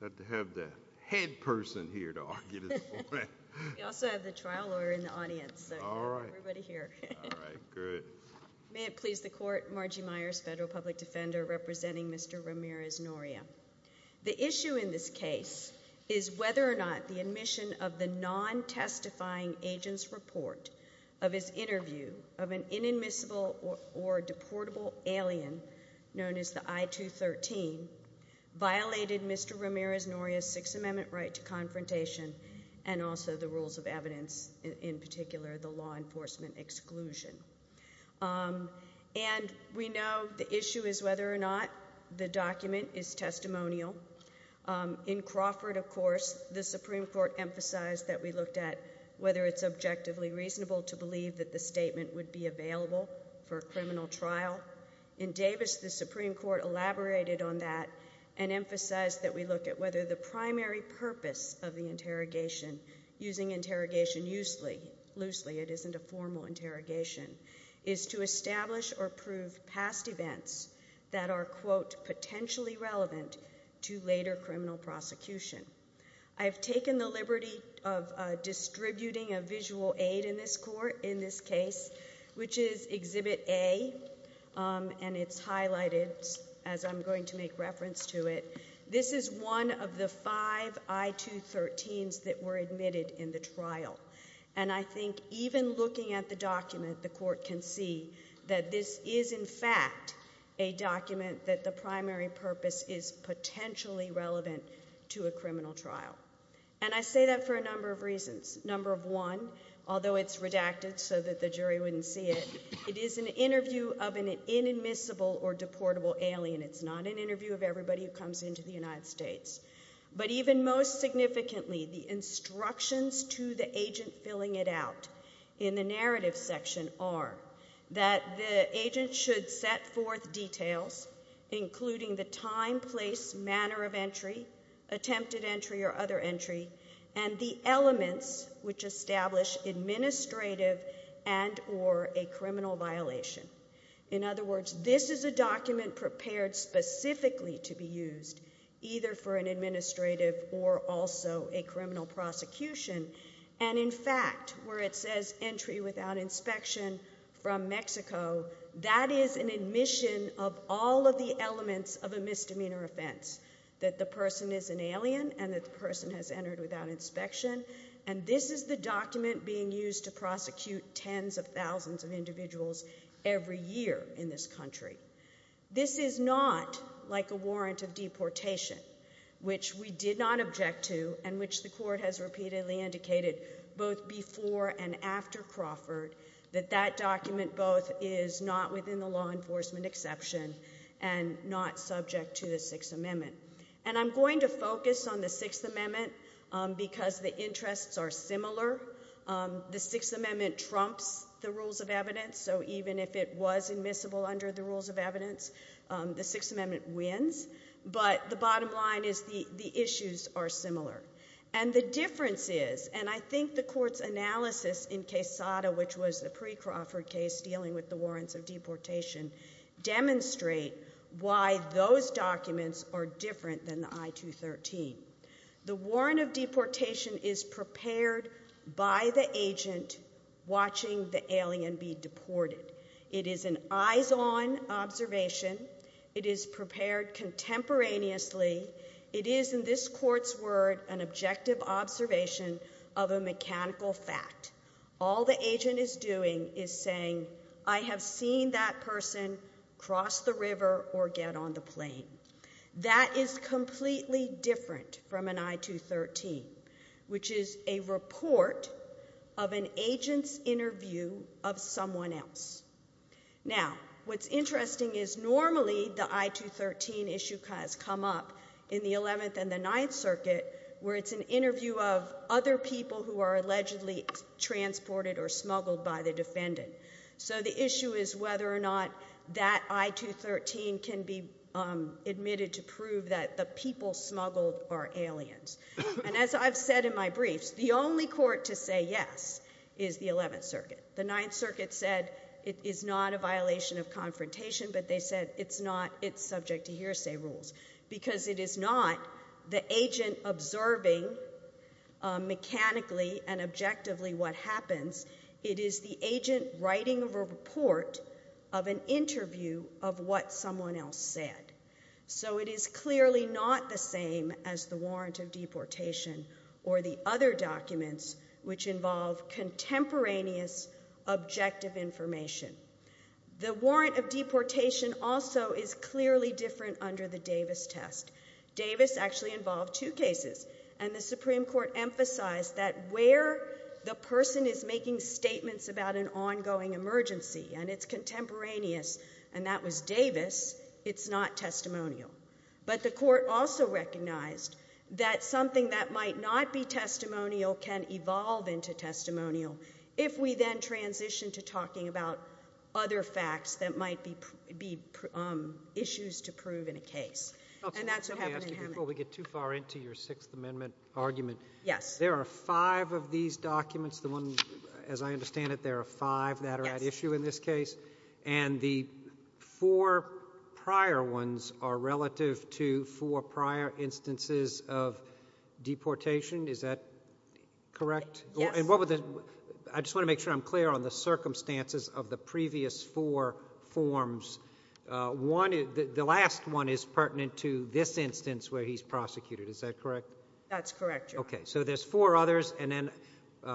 May it please the Court, Margie Myers, Federal Public Defender, representing Mr. Ramirez Noria. The issue in this case is whether or not the admission of the non-testifying agent's report of his interview of an inadmissible or deportable alien known as the I-213 violated Mr. Ramirez Noria's Sixth Amendment right to confrontation and also the rules of evidence, in particular the law enforcement exclusion. And we know the issue is whether or not the document is testimonial. In Crawford, of course, the Supreme Court emphasized that we looked at whether it's subjectively reasonable to believe that the statement would be available for a criminal trial. In Davis, the Supreme Court elaborated on that and emphasized that we look at whether the primary purpose of the interrogation, using interrogation loosely, it isn't a formal interrogation, is to establish or prove past events that are, quote, potentially relevant to later criminal prosecution. I've taken the liberty of distributing a visual aid in this court, in this case, which is Exhibit A, and it's highlighted as I'm going to make reference to it. This is one of the five I-213s that were admitted in the trial. And I think even looking at the document, the Court can see that this is in fact a document that the primary purpose is potentially relevant to a criminal trial. And I say that for a number of reasons. Number one, although it's redacted so that the jury wouldn't see it, it is an interview of an inadmissible or deportable alien. It's not an interview of everybody who comes into the United States. But even most significantly, the instructions to the agent filling it out in the narrative section are that the agent should set forth details, including the time, place, manner of entry, attempted entry or other entry, and the elements which establish administrative and or a criminal violation. In other words, this is a document prepared specifically to be used, either for an administrative or also a criminal prosecution. And in fact, where it says entry without inspection from Mexico, that is an admission of all of the elements of a misdemeanor offense, that the person is an alien and that the person has entered without inspection. And this is the document being used to prosecute tens of thousands of individuals every year in this country. This is not like a warrant of deportation, which we did not object to and which the court has repeatedly indicated both before and after Crawford, that that document both is not within the law enforcement exception and not subject to the Sixth Amendment. And I'm going to focus on the Sixth Amendment because the interests are similar. The Sixth Amendment trumps the rules of evidence, so even if it was admissible under the rules of evidence, the Sixth Amendment wins. But the bottom line is the issues are similar. And the difference is, and I think the court's analysis in Quesada, which was a pre-Crawford case dealing with the warrants of deportation, demonstrate why those documents are different than the I-213. The warrant of deportation is prepared by the agent watching the alien be deported. It is an eyes-on observation. It is prepared contemporaneously. It is, in this court's word, an objective observation of a mechanical fact. All the agent is doing is saying, I have seen that person cross the river or get on the plane. That is completely different from an I-213, which is a report of an agent's interview of someone else. Now, what's interesting is normally the I-213 issue has come up in the Eleventh and the Ninth Circuit, where it's an interview of other people who are allegedly transported or smuggled by the defendant. So the issue is whether or not that I-213 can be admitted to prove that the people smuggled are aliens. And as I've said in my briefs, the only court to say yes is the Eleventh Circuit. The Ninth Circuit said it is not a violation of confrontation, but they said it's not. It's subject to hearsay rules. Because it is not the agent observing mechanically and objectively what happens. It is the agent writing a report of an interview of what someone else said. So it is clearly not the same as the warrant of deportation or the other documents which involve contemporaneous objective information. The warrant of deportation also is clearly different under the Davis test. Davis actually involved two cases, and the Supreme Court emphasized that where the person is making statements about an ongoing emergency, and it's contemporaneous, and that was Davis, it's not testimonial. But the court also recognized that something that might not be testimonial can evolve into testimonial if we then transition to talking about other facts that might be issues to prove in a case. And that's what happened in Hemet. Let me ask you before we get too far into your Sixth Amendment argument. Yes. There are five of these documents, the ones, as I understand it, there are five that are at issue in this case. And the four prior ones are relative to four prior instances of deportation. Is that correct? Yes. And what would the... I just want to make sure I'm clear on the circumstances of the previous four forms. The last one is pertinent to this instance where he's prosecuted. Is that correct? That's correct, Your Honor. Okay. So there's four others, and then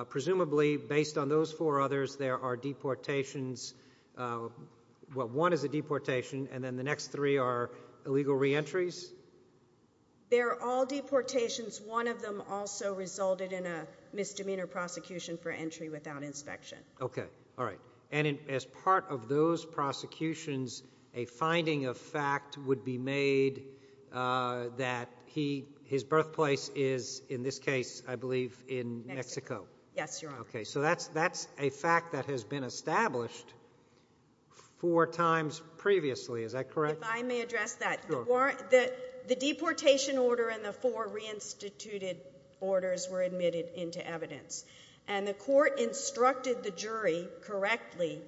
presumably, based on those four others, there are deportations... Well, one is a deportation, and then the next three are illegal reentries? They're all deportations. One of them also resulted in a misdemeanor prosecution for entry without inspection. Okay. All right. And as part of those prosecutions, a finding of fact would be made that his birthplace is, in this case, I believe, in Mexico. Mexico. Yes, Your Honor. Okay. So that's a fact that has been established four times previously. Is that correct? If I may address that. Sure. The deportation order and the four reinstituted orders were admitted into evidence. And the court instructed the jury correctly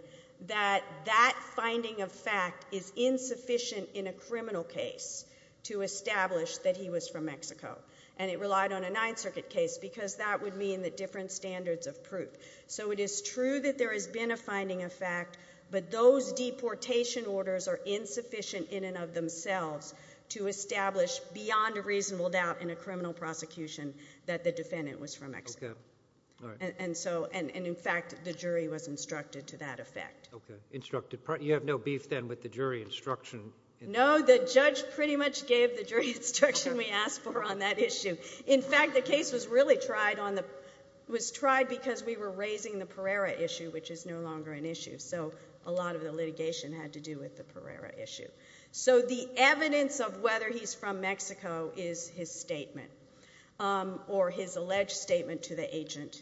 that that finding of fact is insufficient in a criminal case to establish that he was from Mexico. And it relied on a Ninth Circuit case because that would mean that different standards of proof. So it is true that there has been a finding of fact, but those deportation orders are insufficient in and of themselves to establish beyond a reasonable doubt in a criminal prosecution that the defendant was from Mexico. Okay. All right. And so, and in fact, the jury was instructed to that effect. Okay. Instructed. You have no beef then with the jury instruction? No. No, the judge pretty much gave the jury instruction we asked for on that issue. In fact, the case was really tried on the, was tried because we were raising the Pereira issue, which is no longer an issue. So a lot of the litigation had to do with the Pereira issue. So the evidence of whether he's from Mexico is his statement or his alleged statement to the agent.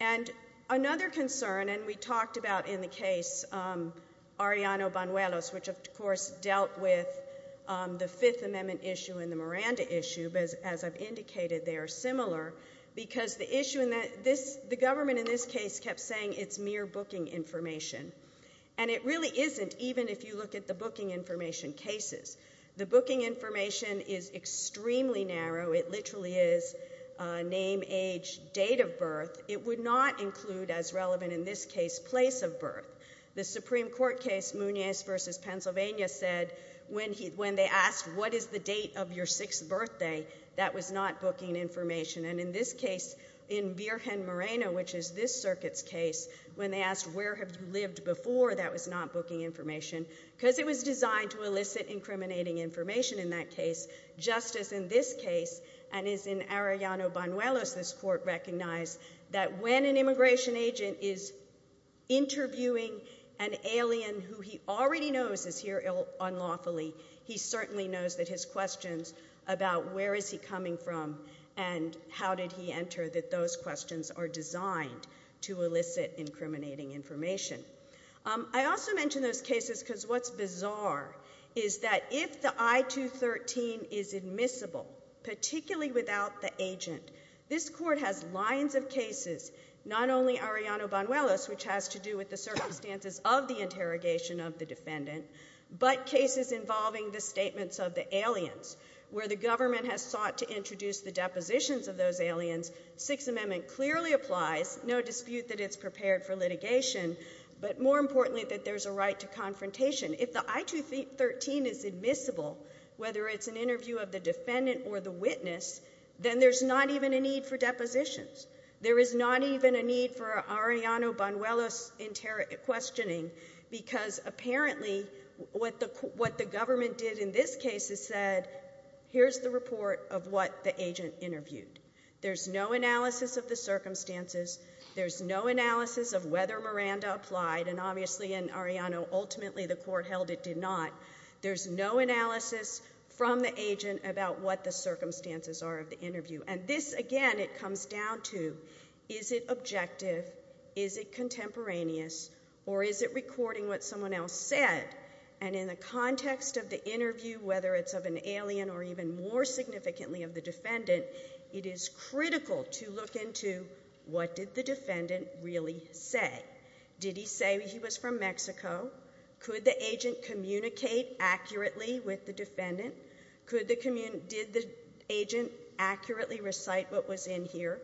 And another concern, and we talked about in the case, Arellano Banuelos, which of course dealt with the Fifth Amendment issue and the Miranda issue, but as I've indicated, they are similar because the issue in that, this, the government in this case kept saying it's mere booking information. And it really isn't, even if you look at the booking information cases. The booking information is extremely narrow. It literally is a name, age, date of birth. It would not include as relevant in this case, place of birth. The Supreme Court case Munez versus Pennsylvania said when he, when they asked what is the date of your sixth birthday, that was not booking information. And in this case, in Virgen Moreno, which is this circuit's case, when they asked where have you lived before, that was not booking information because it was designed to elicit incriminating information in that case. Just as in this case and is in Arellano Banuelos, this court recognized that when an immigration agent is interviewing an alien who he already knows is here unlawfully, he certainly knows that his questions about where is he coming from and how did he enter, that those questions are designed to elicit incriminating information. I also mention those cases because what's bizarre is that if the I-213 is admissible, particularly without the agent, this court has lines of cases, not only Arellano Banuelos, which has to do with the circumstances of the interrogation of the defendant, but cases involving the statements of the aliens where the government has sought to introduce the depositions of those aliens, Sixth Amendment clearly applies, no dispute that it's prepared for litigation, but more importantly that there's a right to confrontation. If the I-213 is admissible, whether it's an interview of the defendant or the witness, then there's not even a need for depositions. There is not even a need for Arellano Banuelos questioning because apparently what the government did in this case is said, here's the report of what the agent interviewed. There's no analysis of the circumstances. There's no analysis of whether Miranda applied, and obviously in Arellano ultimately the court held it did not. There's no analysis from the agent about what the circumstances are of the interview. And this again, it comes down to, is it objective? Is it contemporaneous? Or is it recording what someone else said? And in the context of the interview, whether it's of an alien or even more significantly of the defendant, it is critical to look into what did the defendant really say? Did he say he was from Mexico? Could the agent communicate accurately with the defendant? Could the, did the agent accurately recite what was in here?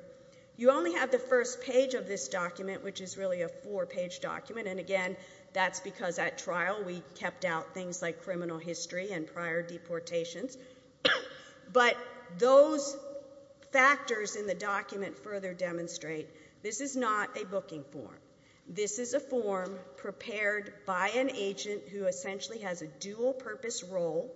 You only have the first page of this document, which is really a four-page document, and again, that's because at trial we kept out things like criminal history and prior deportations. But those factors in the document further demonstrate this is not a booking form. This is a form prepared by an agent who essentially has a dual-purpose role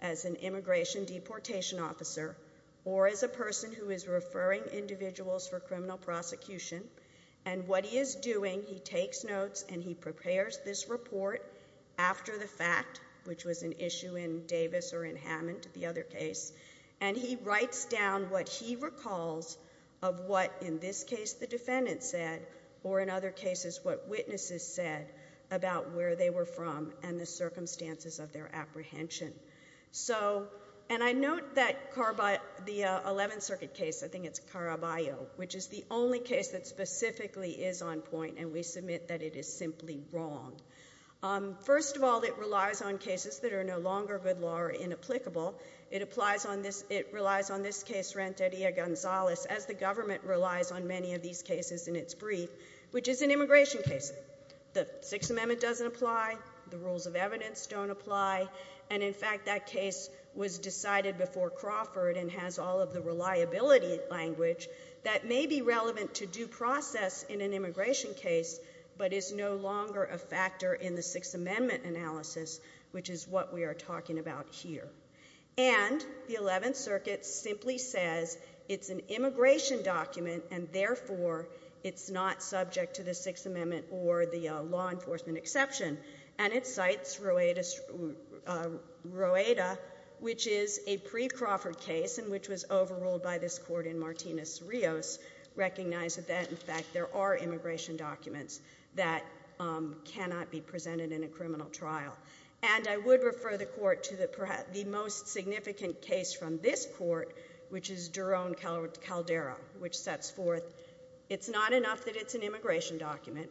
as an immigration deportation officer or as a person who is referring individuals for criminal prosecution. And what he is doing, he takes notes and he prepares this report after the fact, which was an issue in Davis or in Hammond, the other case, and he writes down what he recalls of what, in this case, the defendant said, or in other cases, what witnesses said about where they were from and the circumstances of their apprehension. So, and I note that the 11th Circuit case, I think it's Caraballo, which is the only case that specifically is on point, and we submit that it is simply wrong. First of all, it relies on cases that are no longer good law or inapplicable. It applies on this, it relies on this case, Renteria-Gonzalez, as the government relies on many of these cases in its brief, which is an immigration case. The Sixth Amendment doesn't apply, the rules of evidence don't apply, and in fact that case was decided before Crawford and has all of the reliability language that may be relevant to due process in an immigration case, but is no longer a factor in the Sixth Amendment analysis, which is what we are talking about here. And the 11th Circuit simply says it's an immigration document and therefore it's not subject to the Sixth Amendment or the law enforcement exception. And it cites Roeda, which is a pre-Crawford case and which was overruled by this court in Martinez-Rios, recognized that in fact there are immigration documents that cannot be presented in a criminal trial. And I would refer the court to the most significant case from this court, which is Doron-Caldera, which sets forth it's not enough that it's an immigration document,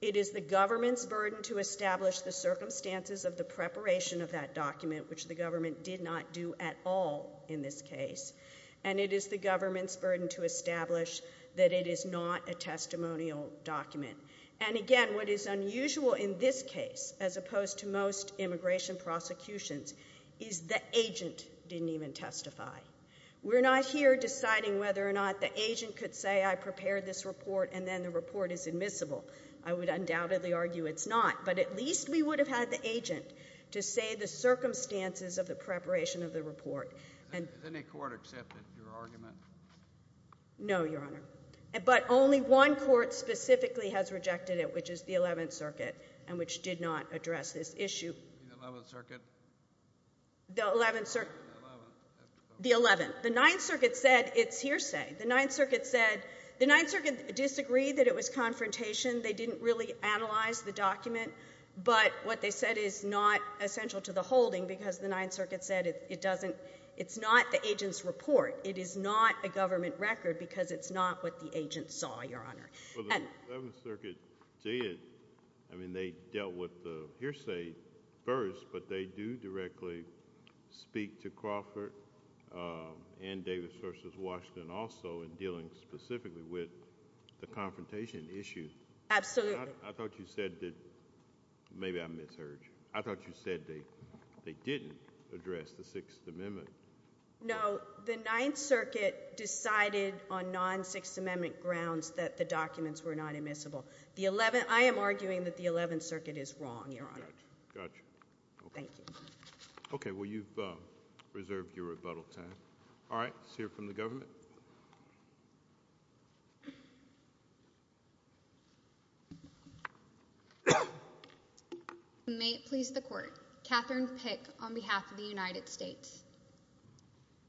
it is the government's burden to establish the circumstances of the preparation of that document, which the government did not do at all in this case, and it is the government's burden to establish that it is not a testimonial document. And again, what is unusual in this case, as opposed to most immigration prosecutions, is the agent didn't even testify. We're not here deciding whether or not the agent could say, I prepared this report and then the report is admissible. I would undoubtedly argue it's not, but at least we would have had the agent to say the circumstances of the preparation of the report. Has any court accepted your argument? No, Your Honor. But only one court specifically has rejected it, which is the Eleventh Circuit, and which did not address this issue. The Eleventh Circuit? The Eleventh Circuit. The Eleventh. The Ninth Circuit said it's hearsay. The Ninth Circuit said, the Ninth Circuit disagreed that it was confrontation. They didn't really analyze the document, but what they said is not essential to the holding because the Ninth Circuit said it doesn't, it's not the agent's report. It is not a government record because it's not what the agent saw, Your Honor. Well, the Eleventh Circuit did, I mean, they dealt with the hearsay first, but they do directly speak to Crawford and Davis v. Washington also in dealing specifically with the confrontation issue. Absolutely. I thought you said that, maybe I misheard, I thought you said they didn't address the Sixth Amendment. No, the Ninth Circuit decided on non-Sixth Amendment grounds that the documents were not admissible. The Eleventh, I am arguing that the Eleventh Circuit is wrong, Your Honor. Gotcha. Okay. Thank you. Okay, well, you've reserved your rebuttal time. All right, let's hear from the government. May it please the Court, Katherine Pick on behalf of the United States.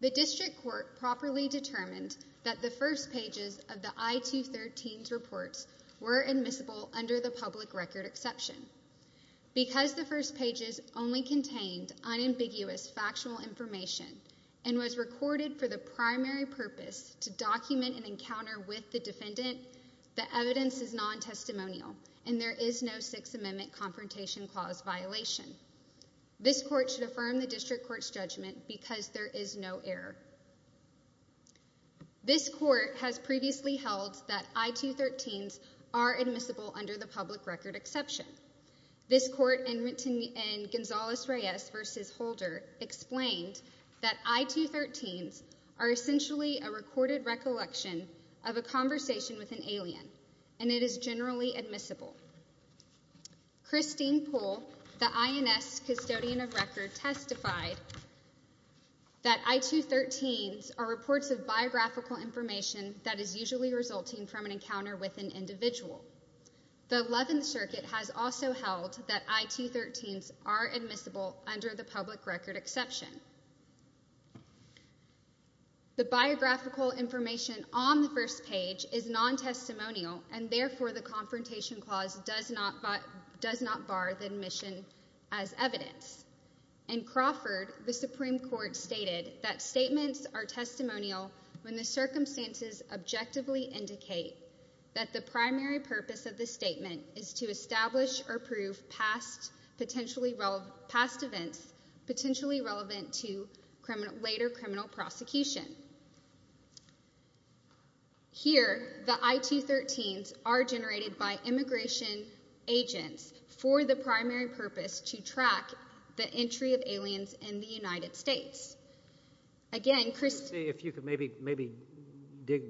The District Court properly determined that the first pages of the I-213's reports were admissible under the public record exception. Because the first pages only contained unambiguous factual information and was recorded for the purpose to document an encounter with the defendant, the evidence is non-testimonial and there is no Sixth Amendment confrontation clause violation. This Court should affirm the District Court's judgment because there is no error. This Court has previously held that I-213's are admissible under the public record exception. This Court in Gonzales-Reyes v. Holder explained that I-213's are essentially a recorded recollection of a conversation with an alien and it is generally admissible. Christine Poole, the INS custodian of record, testified that I-213's are reports of biographical information that is usually resulting from an encounter with an individual. The Eleventh Circuit has also held that I-213's are admissible under the public record exception. The biographical information on the first page is non-testimonial and therefore the confrontation clause does not bar the admission as evidence. In Crawford, the Supreme Court stated that statements are testimonial when the circumstances objectively indicate that the primary purpose of the statement is to establish or prove past events potentially relevant to later criminal prosecution. Here, the I-213's are generated by immigration agents for the primary purpose to track the entry of aliens in the United States. Again, Christine... If you could maybe dig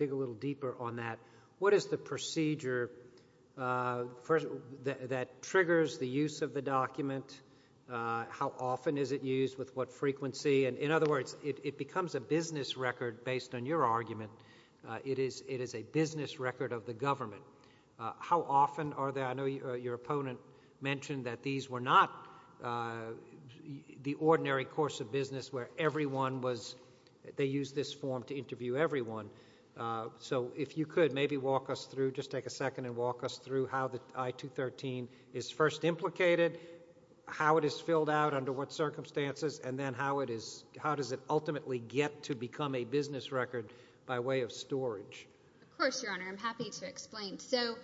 a little deeper on that. What is the procedure that triggers the use of the document? How often is it used? With what frequency? And in other words, it becomes a business record based on your argument. It is a business record of the government. How often are there, I know your opponent mentioned that these were not the ordinary course of business where everyone was, they used this form to interview everyone, so if you could maybe walk us through, just take a second and walk us through how the I-213 is first implicated, how it is filled out under what circumstances, and then how it is, how does it ultimately get to become a business record by way of storage? Of course, Your Honor, I'm happy to explain. So,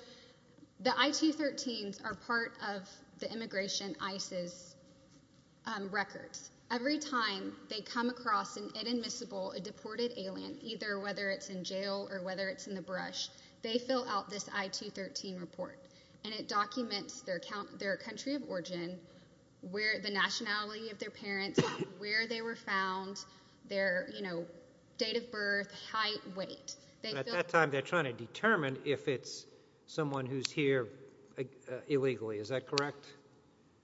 the I-213's are part of the immigration, ICE's records. Every time they come across an inadmissible, a deported alien, either whether it's in jail or whether it's in the brush, they fill out this I-213 report and it documents their country of origin, the nationality of their parents, where they were found, their date of birth, height, weight. At that time, they're trying to determine if it's someone who's here illegally. Is that correct?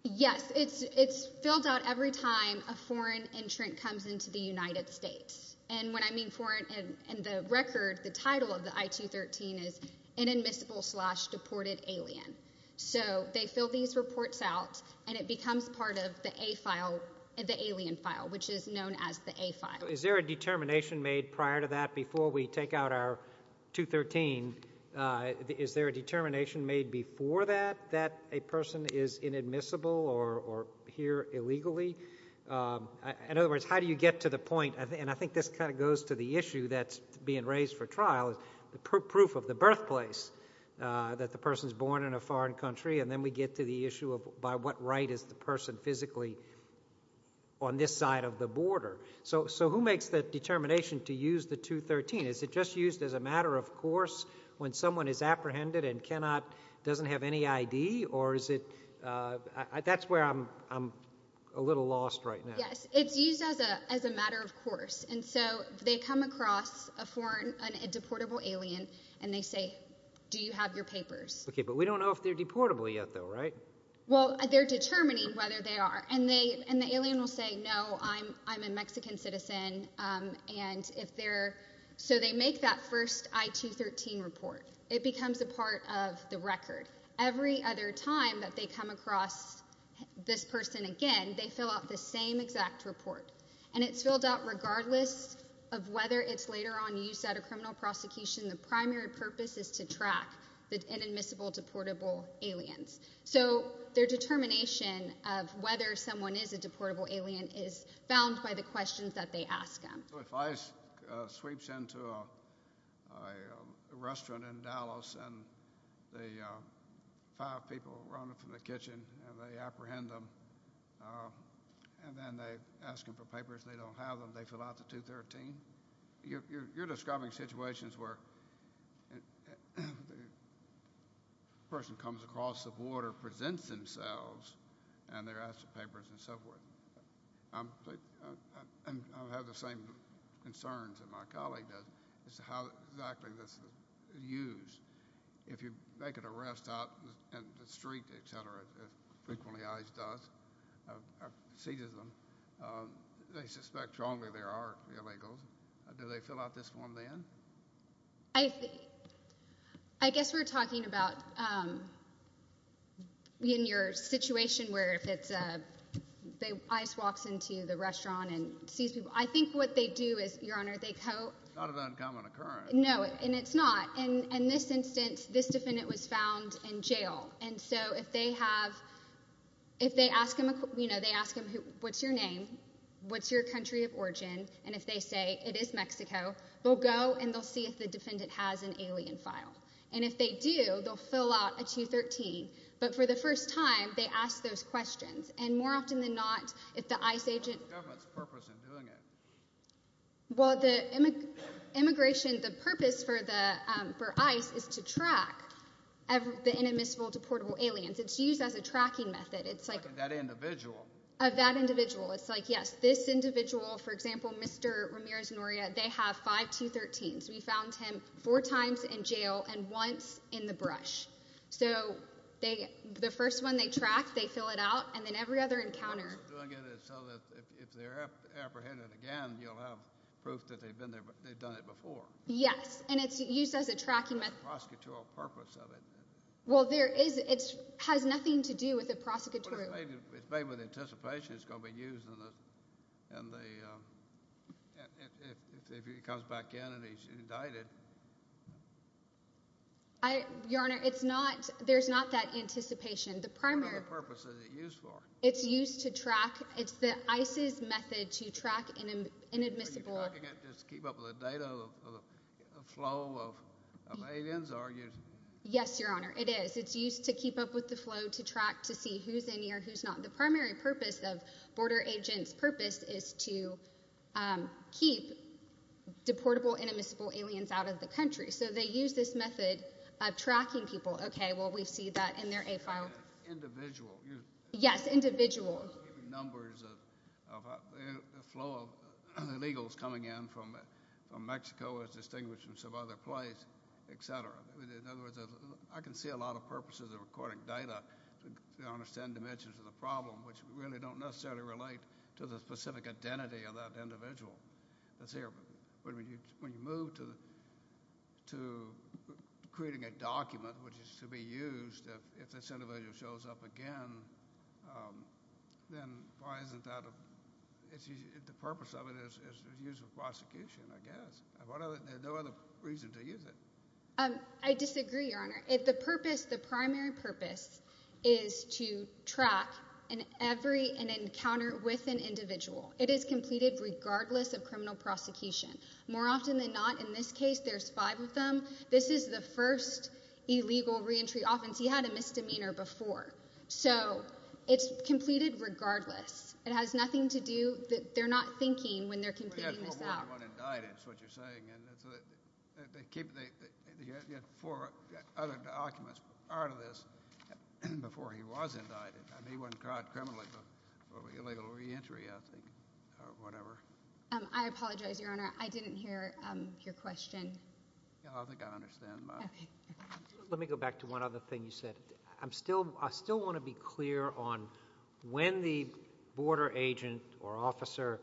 Yes. It's filled out every time a foreign entrant comes into the United States. And when I mean foreign, in the record, the title of the I-213 is inadmissible slash deported alien. So, they fill these reports out and it becomes part of the A file, the alien file, which is known as the A file. So, is there a determination made prior to that before we take out our I-213? Is there a determination made before that that a person is inadmissible or here illegally? In other words, how do you get to the point? And I think this kind of goes to the issue that's being raised for trial, the proof of the birthplace that the person's born in a foreign country and then we get to the issue of by what right is the person physically on this side of the border? So, who makes the determination to use the 213? Is it just used as a matter of course when someone is apprehended and cannot, doesn't have any ID or is it, that's where I'm a little lost right now. Yes. It's used as a matter of course. And so, they come across a foreign, a deportable alien and they say, do you have your papers? Okay, but we don't know if they're deportable yet though, right? Well, they're determining whether they are. And they, and the alien will say, no, I'm, I'm a Mexican citizen and if they're, so they make that first I213 report. It becomes a part of the record. Every other time that they come across this person again, they fill out the same exact report and it's filled out regardless of whether it's later on use at a criminal prosecution, the primary purpose is to track the inadmissible deportable aliens. So, their determination of whether someone is a deportable alien is found by the questions that they ask them. So, if ICE sweeps into a restaurant in Dallas and the five people run up from the kitchen and they apprehend them and then they ask them for papers, they don't have them, they fill out the 213, you're, you're, you're describing situations where the person comes across the water, presents themselves, and they're asked for papers and so forth. I'm, I have the same concerns that my colleague does as to how exactly this is used. If you make an arrest out in the street, et cetera, if frequently ICE does, seizes them, they suspect strongly they are illegals. Do they fill out this form then? I, I guess we're talking about, um, in your situation where if it's a, they, ICE walks into the restaurant and sees people. I think what they do is, Your Honor, they co- It's not an uncommon occurrence. No, and it's not. In, in this instance, this defendant was found in jail and so if they have, if they ask him, you know, they ask him what's your name, what's your country of origin, and if they say it is Mexico, they'll go and they'll see if the defendant has an alien file. And if they do, they'll fill out a 213. But for the first time, they ask those questions. And more often than not, if the ICE agent- What's the government's purpose in doing it? Well, the immigration, the purpose for the, um, for ICE is to track every, the inadmissible deportable aliens. It's used as a tracking method. It's like- That individual? Of that individual. It's like, yes, this individual, for example, Mr. Ramirez Noria, they have five 213s. We found him four times in jail and once in the brush. So they, the first one they track, they fill it out, and then every other encounter- What they're doing it is so that if, if they're apprehended again, you'll have proof that they've been there, they've done it before. Yes. And it's used as a tracking method. What's the prosecutorial purpose of it? Well, there is, it has nothing to do with the prosecutorial- It's made, it's made with anticipation it's going to be used in the, in the, um, if, if he comes back in and he's indicted. I, Your Honor, it's not, there's not that anticipation. The primary- What other purpose is it used for? It's used to track, it's the ICE's method to track inadmissible- Are you talking about just to keep up with the data, the flow of, of aliens, or are you- Yes, Your Honor, it is. It's used to keep up with the flow, to track, to see who's in here, who's not. The primary purpose of Border Agents' purpose is to, um, keep deportable inadmissible aliens out of the country. So they use this method of tracking people. Okay, well, we see that in their A-file. Individual. You- Yes, individual. You're giving numbers of, of a flow of illegals coming in from, from Mexico as distinguishments of other place, et cetera. I mean, in other words, I can see a lot of purposes of recording data to understand dimensions of the problem, which really don't necessarily relate to the specific identity of that individual that's here. But when you, when you move to, to creating a document, which is to be used if, if this individual shows up again, um, then why isn't that a, it's, the purpose of it is, is, is used for prosecution, I guess. What other, is there no other reason to use it? Um, I disagree, Your Honor. It, the purpose, the primary purpose is to track an every, an encounter with an individual. It is completed regardless of criminal prosecution. More often than not, in this case, there's five of them. This is the first illegal reentry offense. He had a misdemeanor before. So it's completed regardless. It has nothing to do, they're not thinking when they're completing this out. He wasn't indicted, that's what you're saying, and that's what, they keep the, the, the four other documents part of this before he was indicted, I mean, he wasn't caught criminally, but for illegal reentry, I think, or whatever. Um, I apologize, Your Honor, I didn't hear, um, your question. Yeah, I think I understand. Okay. Let me go back to one other thing you said. I'm still, I still want to be clear on when the border agent or officer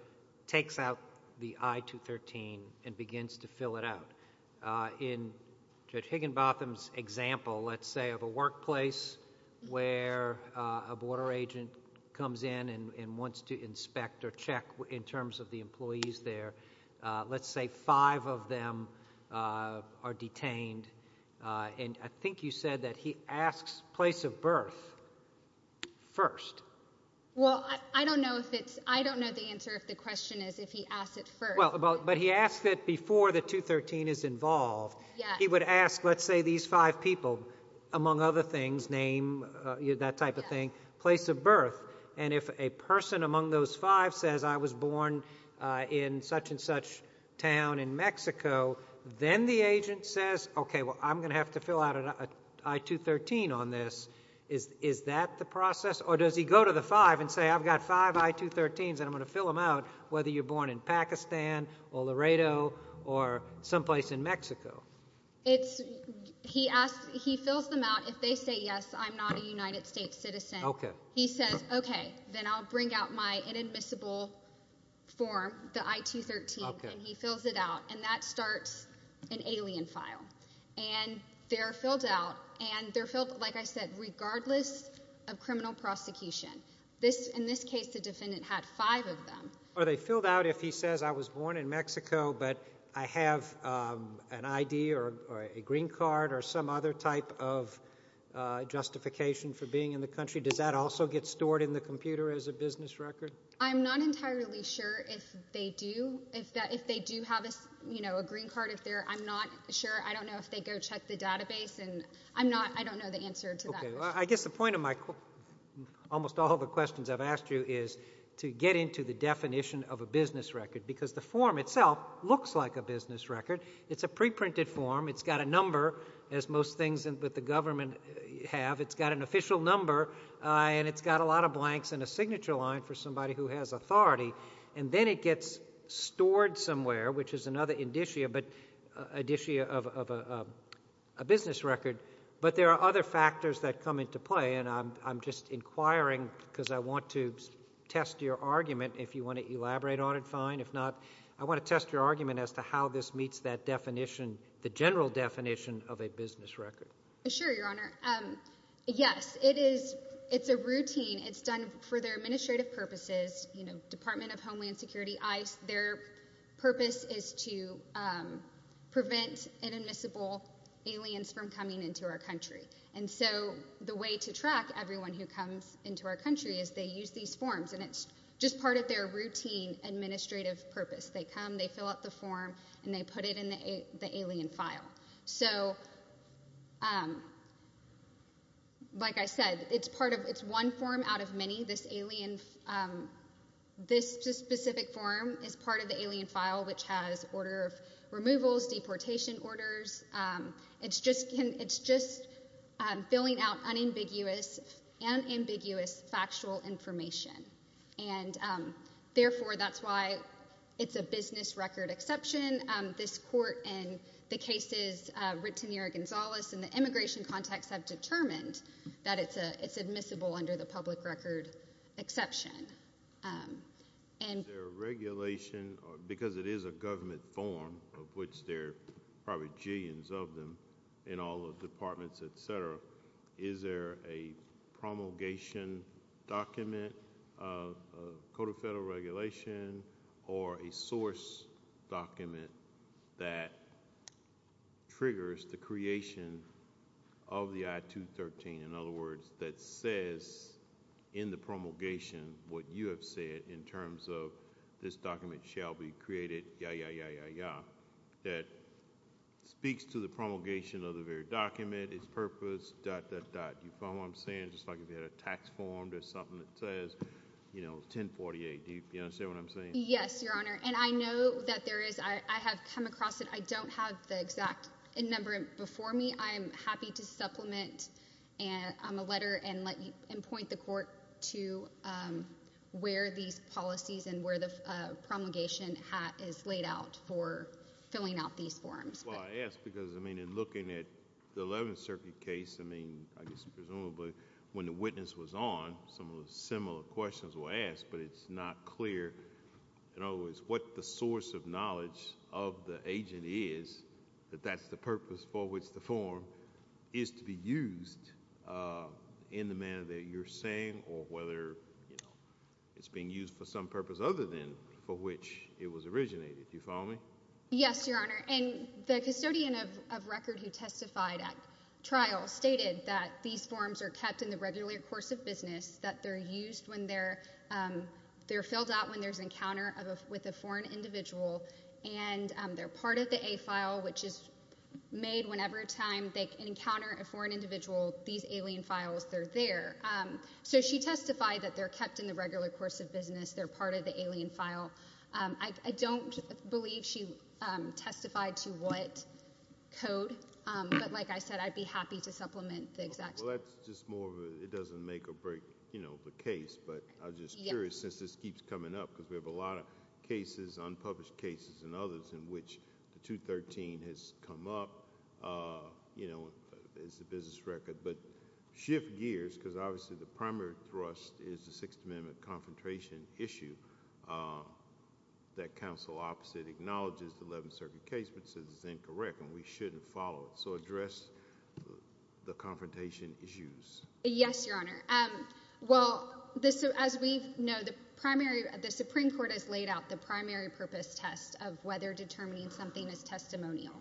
takes out the I-213 and begins to fill it out. Uh, in Judge Higginbotham's example, let's say, of a workplace where, uh, a border agent comes in and, and wants to inspect or check in terms of the employees there, uh, let's say five of them, uh, are detained, uh, and I think you said that he asks place of birth first. Well, I, I don't know if it's, I don't know the answer if the question is if he asks it first. Well, but he asks it before the 213 is involved. Yeah. He would ask, let's say these five people, among other things, name, uh, that type of thing, place of birth, and if a person among those five says, I was born, uh, in such and such town in Mexico, then the agent says, okay, well, I'm going to have to fill out an I-213 on this, is, is that the process, or does he go to the five and say, I've got five I-213s and I'm going to fill them out, whether you're born in Pakistan, or Laredo, or some place in Mexico? It's, he asks, he fills them out, if they say yes, I'm not a United States citizen. Okay. He says, okay, then I'll bring out my inadmissible form, the I-213, and he fills it out, and that starts an alien file. And they're filled out, and they're filled, like I said, regardless of criminal prosecution. This, in this case, the defendant had five of them. Are they filled out if he says, I was born in Mexico, but I have, um, an ID, or a green card, or some other type of, uh, justification for being in the country, does that also get stored in the computer as a business record? I'm not entirely sure if they do, if that, if they do have a, you know, a green card if they're, I'm not sure, I don't know if they go check the database, and I'm not, I don't know the answer to that. Okay. I guess the point of my, almost all of the questions I've asked you is to get into the definition of a business record, because the form itself looks like a business record. It's a pre-printed form. It's got a number, as most things with the government have. It's got an official number, uh, and it's got a lot of blanks and a signature line for somebody who has authority. And then it gets stored somewhere, which is another indicia, but, uh, indicia of, of a, uh, a business record. But there are other factors that come into play, and I'm, I'm just inquiring, because I want to test your argument, if you want to elaborate on it, fine. If not, I want to test your argument as to how this meets that definition, the general definition of a business record. Sure, Your Honor. Um, yes. It is, it's a routine. It's done for their administrative purposes. You know, Department of Homeland Security, I, their purpose is to, um, prevent inadmissible aliens from coming into our country. And so, the way to track everyone who comes into our country is they use these forms, and it's just part of their routine administrative purpose. They come, they fill out the form, and they put it in the alien file. So, um, like I said, it's part of, it's one form out of many. This alien, um, this specific form is part of the alien file, which has order of removals, deportation orders. Um, it's just, it's just, um, filling out unambiguous, unambiguous factual information. And um, therefore, that's why it's a business record exception. Um, this court, and the cases, uh, written here at Gonzales, and the immigration contacts have determined that it's a, it's admissible under the public record exception. Um, and. Is there a regulation, or, because it is a government form, of which there are probably jillions of them in all the departments, et cetera, is there a promulgation document, a code of federal regulation, or a source document that triggers the creation of the I-213? In other words, that says in the promulgation what you have said in terms of this document shall be created, ya, ya, ya, ya, ya. That speaks to the promulgation of the very document, its purpose, dot, dot, dot, you know, 1048. Do you understand what I'm saying? Yes, Your Honor. And I know that there is, I, I have come across it. I don't have the exact number before me. I am happy to supplement, um, a letter and let you, and point the court to, um, where these policies and where the, uh, promulgation hat is laid out for filling out these forms. Well, I ask because, I mean, in looking at the 11th Circuit case, I mean, I guess presumably similar questions were asked, but it's not clear, in other words, what the source of knowledge of the agent is, that that's the purpose for which the form is to be used, uh, in the manner that you're saying, or whether, you know, it's being used for some purpose other than for which it was originated. Do you follow me? Yes, Your Honor. And the custodian of, of record who testified at trial stated that these forms are kept in the regular course of business, that they're used when they're, um, they're filled out when there's an encounter of a, with a foreign individual, and, um, they're part of the A file, which is made whenever time they encounter a foreign individual, these alien files, they're there. Um, so she testified that they're kept in the regular course of business. They're part of the alien file. Um, I, I don't believe she, um, testified to what code, um, but like I said, I'd be happy to supplement the exact... Well, that's just more of a, it doesn't make or break, you know, the case, but I'm just curious, since this keeps coming up, because we have a lot of cases, unpublished cases and others in which the 213 has come up, uh, you know, as a business record, but shift gears, because obviously the primary thrust is the Sixth Amendment confrontation issue, um, that counsel opposite acknowledges the Eleventh Circuit case, but says it's incorrect and we shouldn't follow it. So address the confrontation issues. Yes, Your Honor. Um, well, this, as we know, the primary, the Supreme Court has laid out the primary purpose test of whether determining something is testimonial.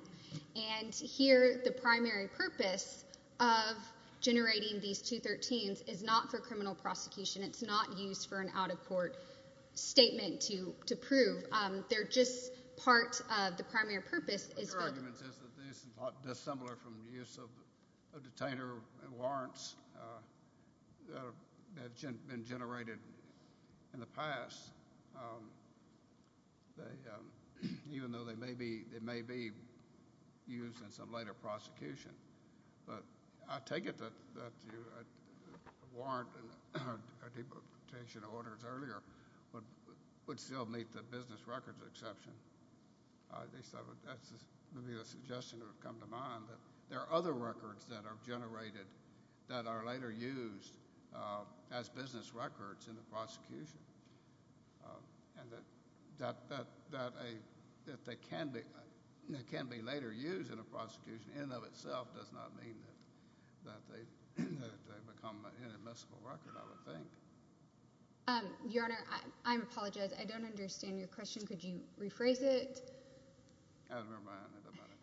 And here, the primary purpose of generating these 213s is not for criminal prosecution. It's not used for an out-of-court statement to, to prove. Um, they're just part of the primary purpose is... My argument is that these are dissimilar from the use of, of detainer warrants, uh, that have been generated in the past. Um, they, um, even though they may be, they may be used in some later prosecution, but I take it that, that you, uh, warrant a deportation order earlier would, would still meet the business records exception. At least that would, that would be a suggestion that would come to mind, that there are other records that are generated that are later used, uh, as business records in the prosecution. Um, and that, that, that, that a, that they can be, can be later used in a prosecution in and of itself does not mean that, that they, that they become an inadmissible record, I would think. Um, Your Honor, I, I apologize. I don't understand your question. Could you rephrase it? I don't remember I asked about it.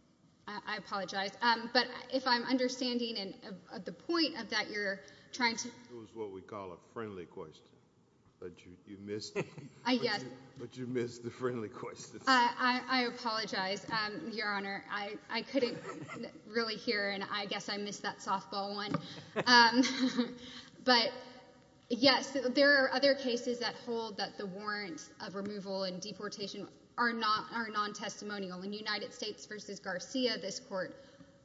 I, I apologize. Um, but if I'm understanding and, uh, the point of that you're trying to... It was what we call a friendly question, but you, you missed it. I, yes. But you, but you missed the friendly question. I, I, I apologize. Um, Your Honor, I, I couldn't really hear and I guess I missed that softball one. Um, but yes, there are other cases that hold that the warrant of removal and deportation are not, are non-testimonial. In United States v. Garcia, this court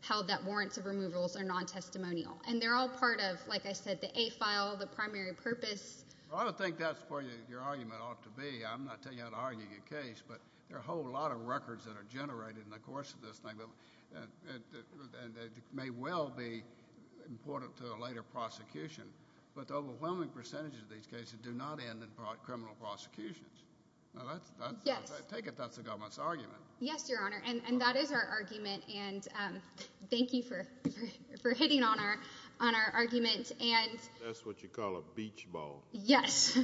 held that warrants of removals are non-testimonial. And they're all part of, like I said, the A file, the primary purpose. Well, I don't think that's where your argument ought to be. I'm not telling you how to argue your case, but there are a whole lot of records that are generated in the course of this thing. And, and, and it may well be important to a later prosecution, but the overwhelming percentage of these cases do not end in criminal prosecutions. Now that's, that's. Yes. I take it that's the government's argument. Yes, Your Honor. And, and that is our argument. And, um, thank you for, for, for hitting on our, on our argument. And. That's what you call a beach ball. Yes.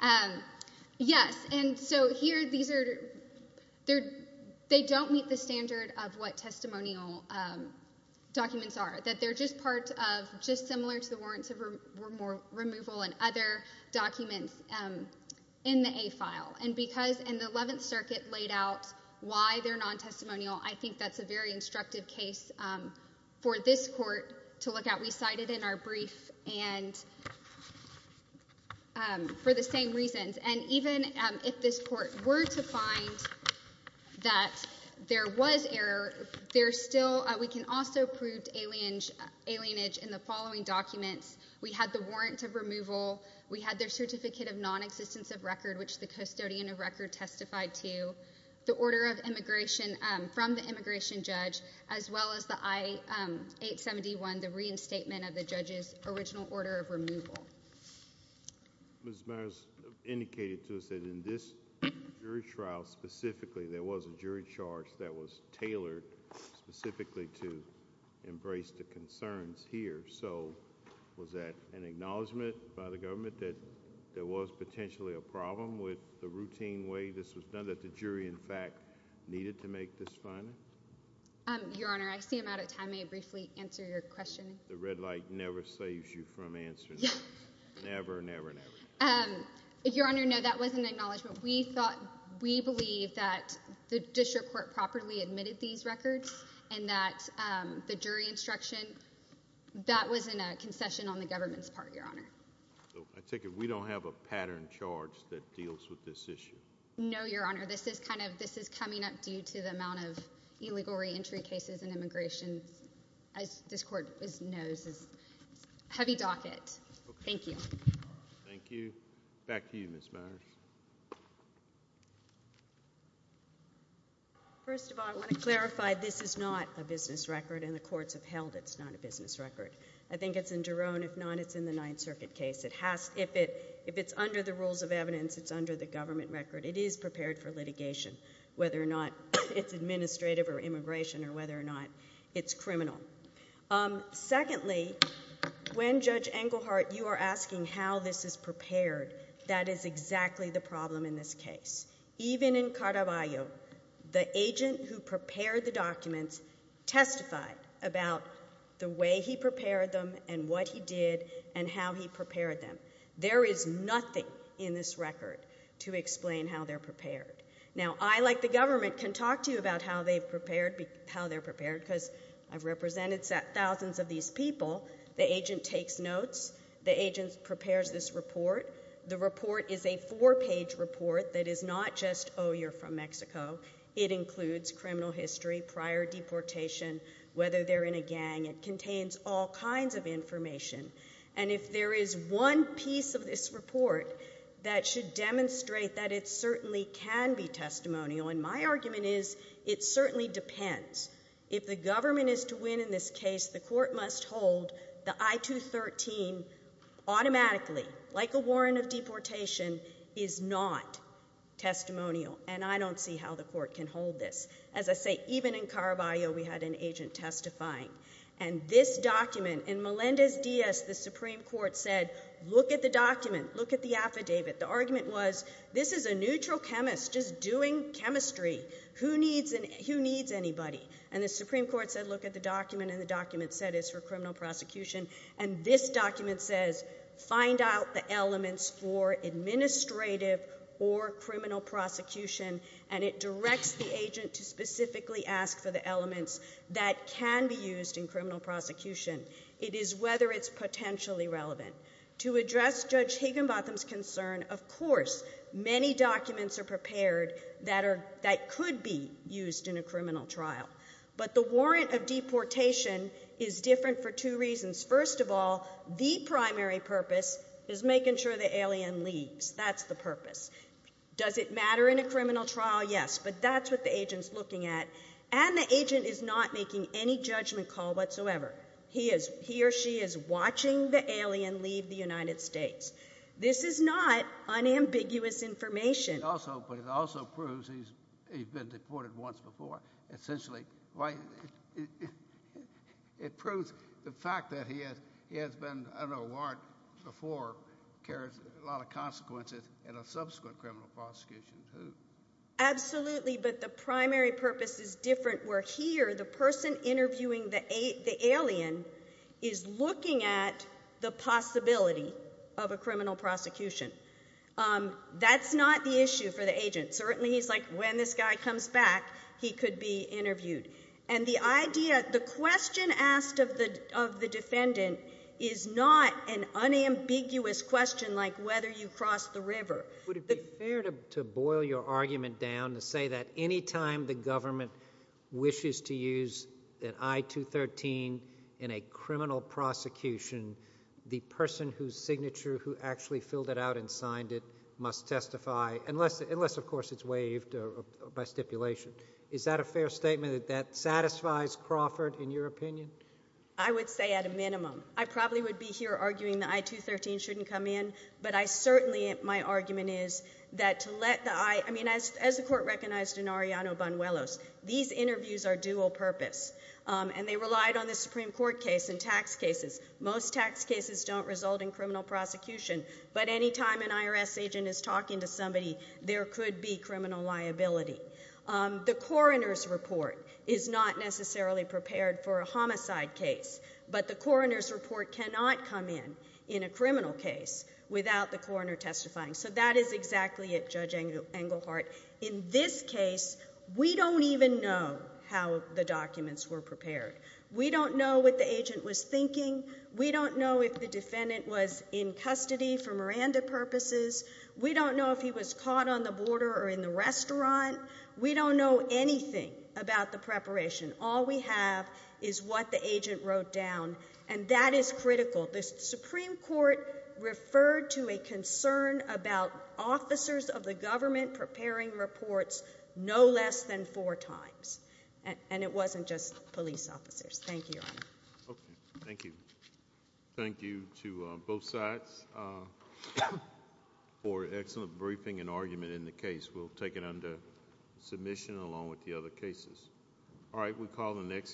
Um, yes. And so here, these are, they're, they don't meet the standard of what testimonial, um, documents are. That they're just part of, just similar to the warrants of removal and other documents. Um, in the A file. And because in the Eleventh Circuit laid out why they're non-testimonial, I think that's a very instructive case, um, for this court to look at. We cited in our brief and, um, for the same reasons. And even, um, if this court were to find that there was error, there's still, uh, we can also prove alienage in the following documents. We had the warrant of removal. We had their certificate of non-existence of record, which the custodian of record testified to. The order of immigration, um, from the immigration judge. As well as the I, um, 871, the reinstatement of the judge's original order of removal. Ms. Meyers indicated to us that in this jury trial specifically, there was a jury charge that was tailored specifically to embrace the concerns here. So, was that an acknowledgment by the government that there was potentially a problem with the routine way this was done, that the jury, in fact, needed to make this finding? Um, Your Honor, I see I'm out of time. May I briefly answer your question? The red light never saves you from answering. Never, never, never. Um, Your Honor, no, that was an acknowledgment. We thought, we believe that the district court properly admitted these records and that, um, the jury instruction, that was in a concession on the government's part, Your Honor. So, I take it we don't have a pattern charge that deals with this issue? No, Your Honor, this is kind of, this is coming up due to the amount of illegal reentry cases in immigration. As this court knows, it's a heavy docket. Okay. Thank you. Thank you. Back to you, Ms. Meyers. First of all, I want to clarify, this is not a business record, and the courts have held it's not a business record. I think it's in Jerome. If not, it's in the Ninth Circuit case. It has, if it, if it's under the rules of evidence, it's under the government record. It is prepared for litigation, whether or not it's administrative or immigration or whether or not it's criminal. Um, secondly, when Judge Englehart, you are asking how this is prepared, that is exactly the problem in this case. Even in Caraballo, the agent who prepared the documents testified about the way he prepared them and what he did and how he prepared them. There is nothing in this record to explain how they're prepared. Now, I, like the government, can talk to you about how they've prepared, how they're prepared, because I've represented thousands of these people. The agent takes notes. The agent prepares this report. The report is a four-page report that is not just, oh, you're from Mexico. It includes criminal history, prior deportation, whether they're in a gang. It contains all kinds of information. And if there is one piece of this report that should demonstrate that it certainly can be testimonial, and my argument is it certainly depends, if the government is to win in this case, the court must hold the I-213 automatically, like a warrant of deportation, is not testimonial. And I don't see how the court can hold this. As I say, even in Caraballo, we had an agent testifying. And this document, in Melendez-Diaz, the Supreme Court said, look at the document, look at the affidavit. The argument was, this is a neutral chemist just doing chemistry. Who needs anybody? And the Supreme Court said, look at the document, and the document said it's for criminal prosecution. And this document says, find out the elements for administrative or criminal prosecution, and it directs the agent to specifically ask for the elements that can be used in criminal prosecution. It is whether it's potentially relevant. To address Judge Higginbotham's concern, of course, many documents are prepared that could be used in a criminal trial. But the warrant of deportation is different for two reasons. First of all, the primary purpose is making sure the alien leaves. That's the purpose. Does it matter in a criminal trial? Yes. But that's what the agent's looking at. And the agent is not making any judgment call whatsoever. He or she is watching the alien leave the United States. This is not unambiguous information. But it also proves he's been deported once before. Essentially, it proves the fact that he has been, I don't know, warned before, carries a lot of consequences in a subsequent criminal prosecution. Absolutely, but the primary purpose is different, where here the person interviewing the alien is looking at the possibility of a criminal prosecution. That's not the issue for the agent. Certainly he's like, when this guy comes back, he could be interviewed. And the question asked of the defendant is not an unambiguous question like whether you crossed the river. Would it be fair to boil your argument down to say that any time the government wishes to use an I-213 in a criminal prosecution, the person whose signature who actually filled it out and signed it must testify, unless, of course, it's waived by stipulation. Is that a fair statement, that that satisfies Crawford, in your opinion? I would say at a minimum. I probably would be here arguing the I-213 shouldn't come in, but I certainly, my argument is that to let the I- I mean, as the court recognized in Arellano-Banuelos, these interviews are dual purpose, and they relied on the Supreme Court case and tax cases. Most tax cases don't result in criminal prosecution, but any time an IRS agent is talking to somebody, there could be criminal liability. The coroner's report is not necessarily prepared for a homicide case, but the coroner's report cannot come in in a criminal case without the coroner testifying. So that is exactly it, Judge Englehart. In this case, we don't even know how the documents were prepared. We don't know what the agent was thinking. We don't know if the defendant was in custody for Miranda purposes. We don't know if he was caught on the border or in the restaurant. We don't know anything about the preparation. All we have is what the agent wrote down, and that is critical. The Supreme Court referred to a concern about officers of the government preparing reports no less than four times, and it wasn't just police officers. Thank you, Your Honor. Okay. Thank you. Thank you to both sides for excellent briefing and argument in the case. We'll take it under submission along with the other cases. All right, we'll call the next.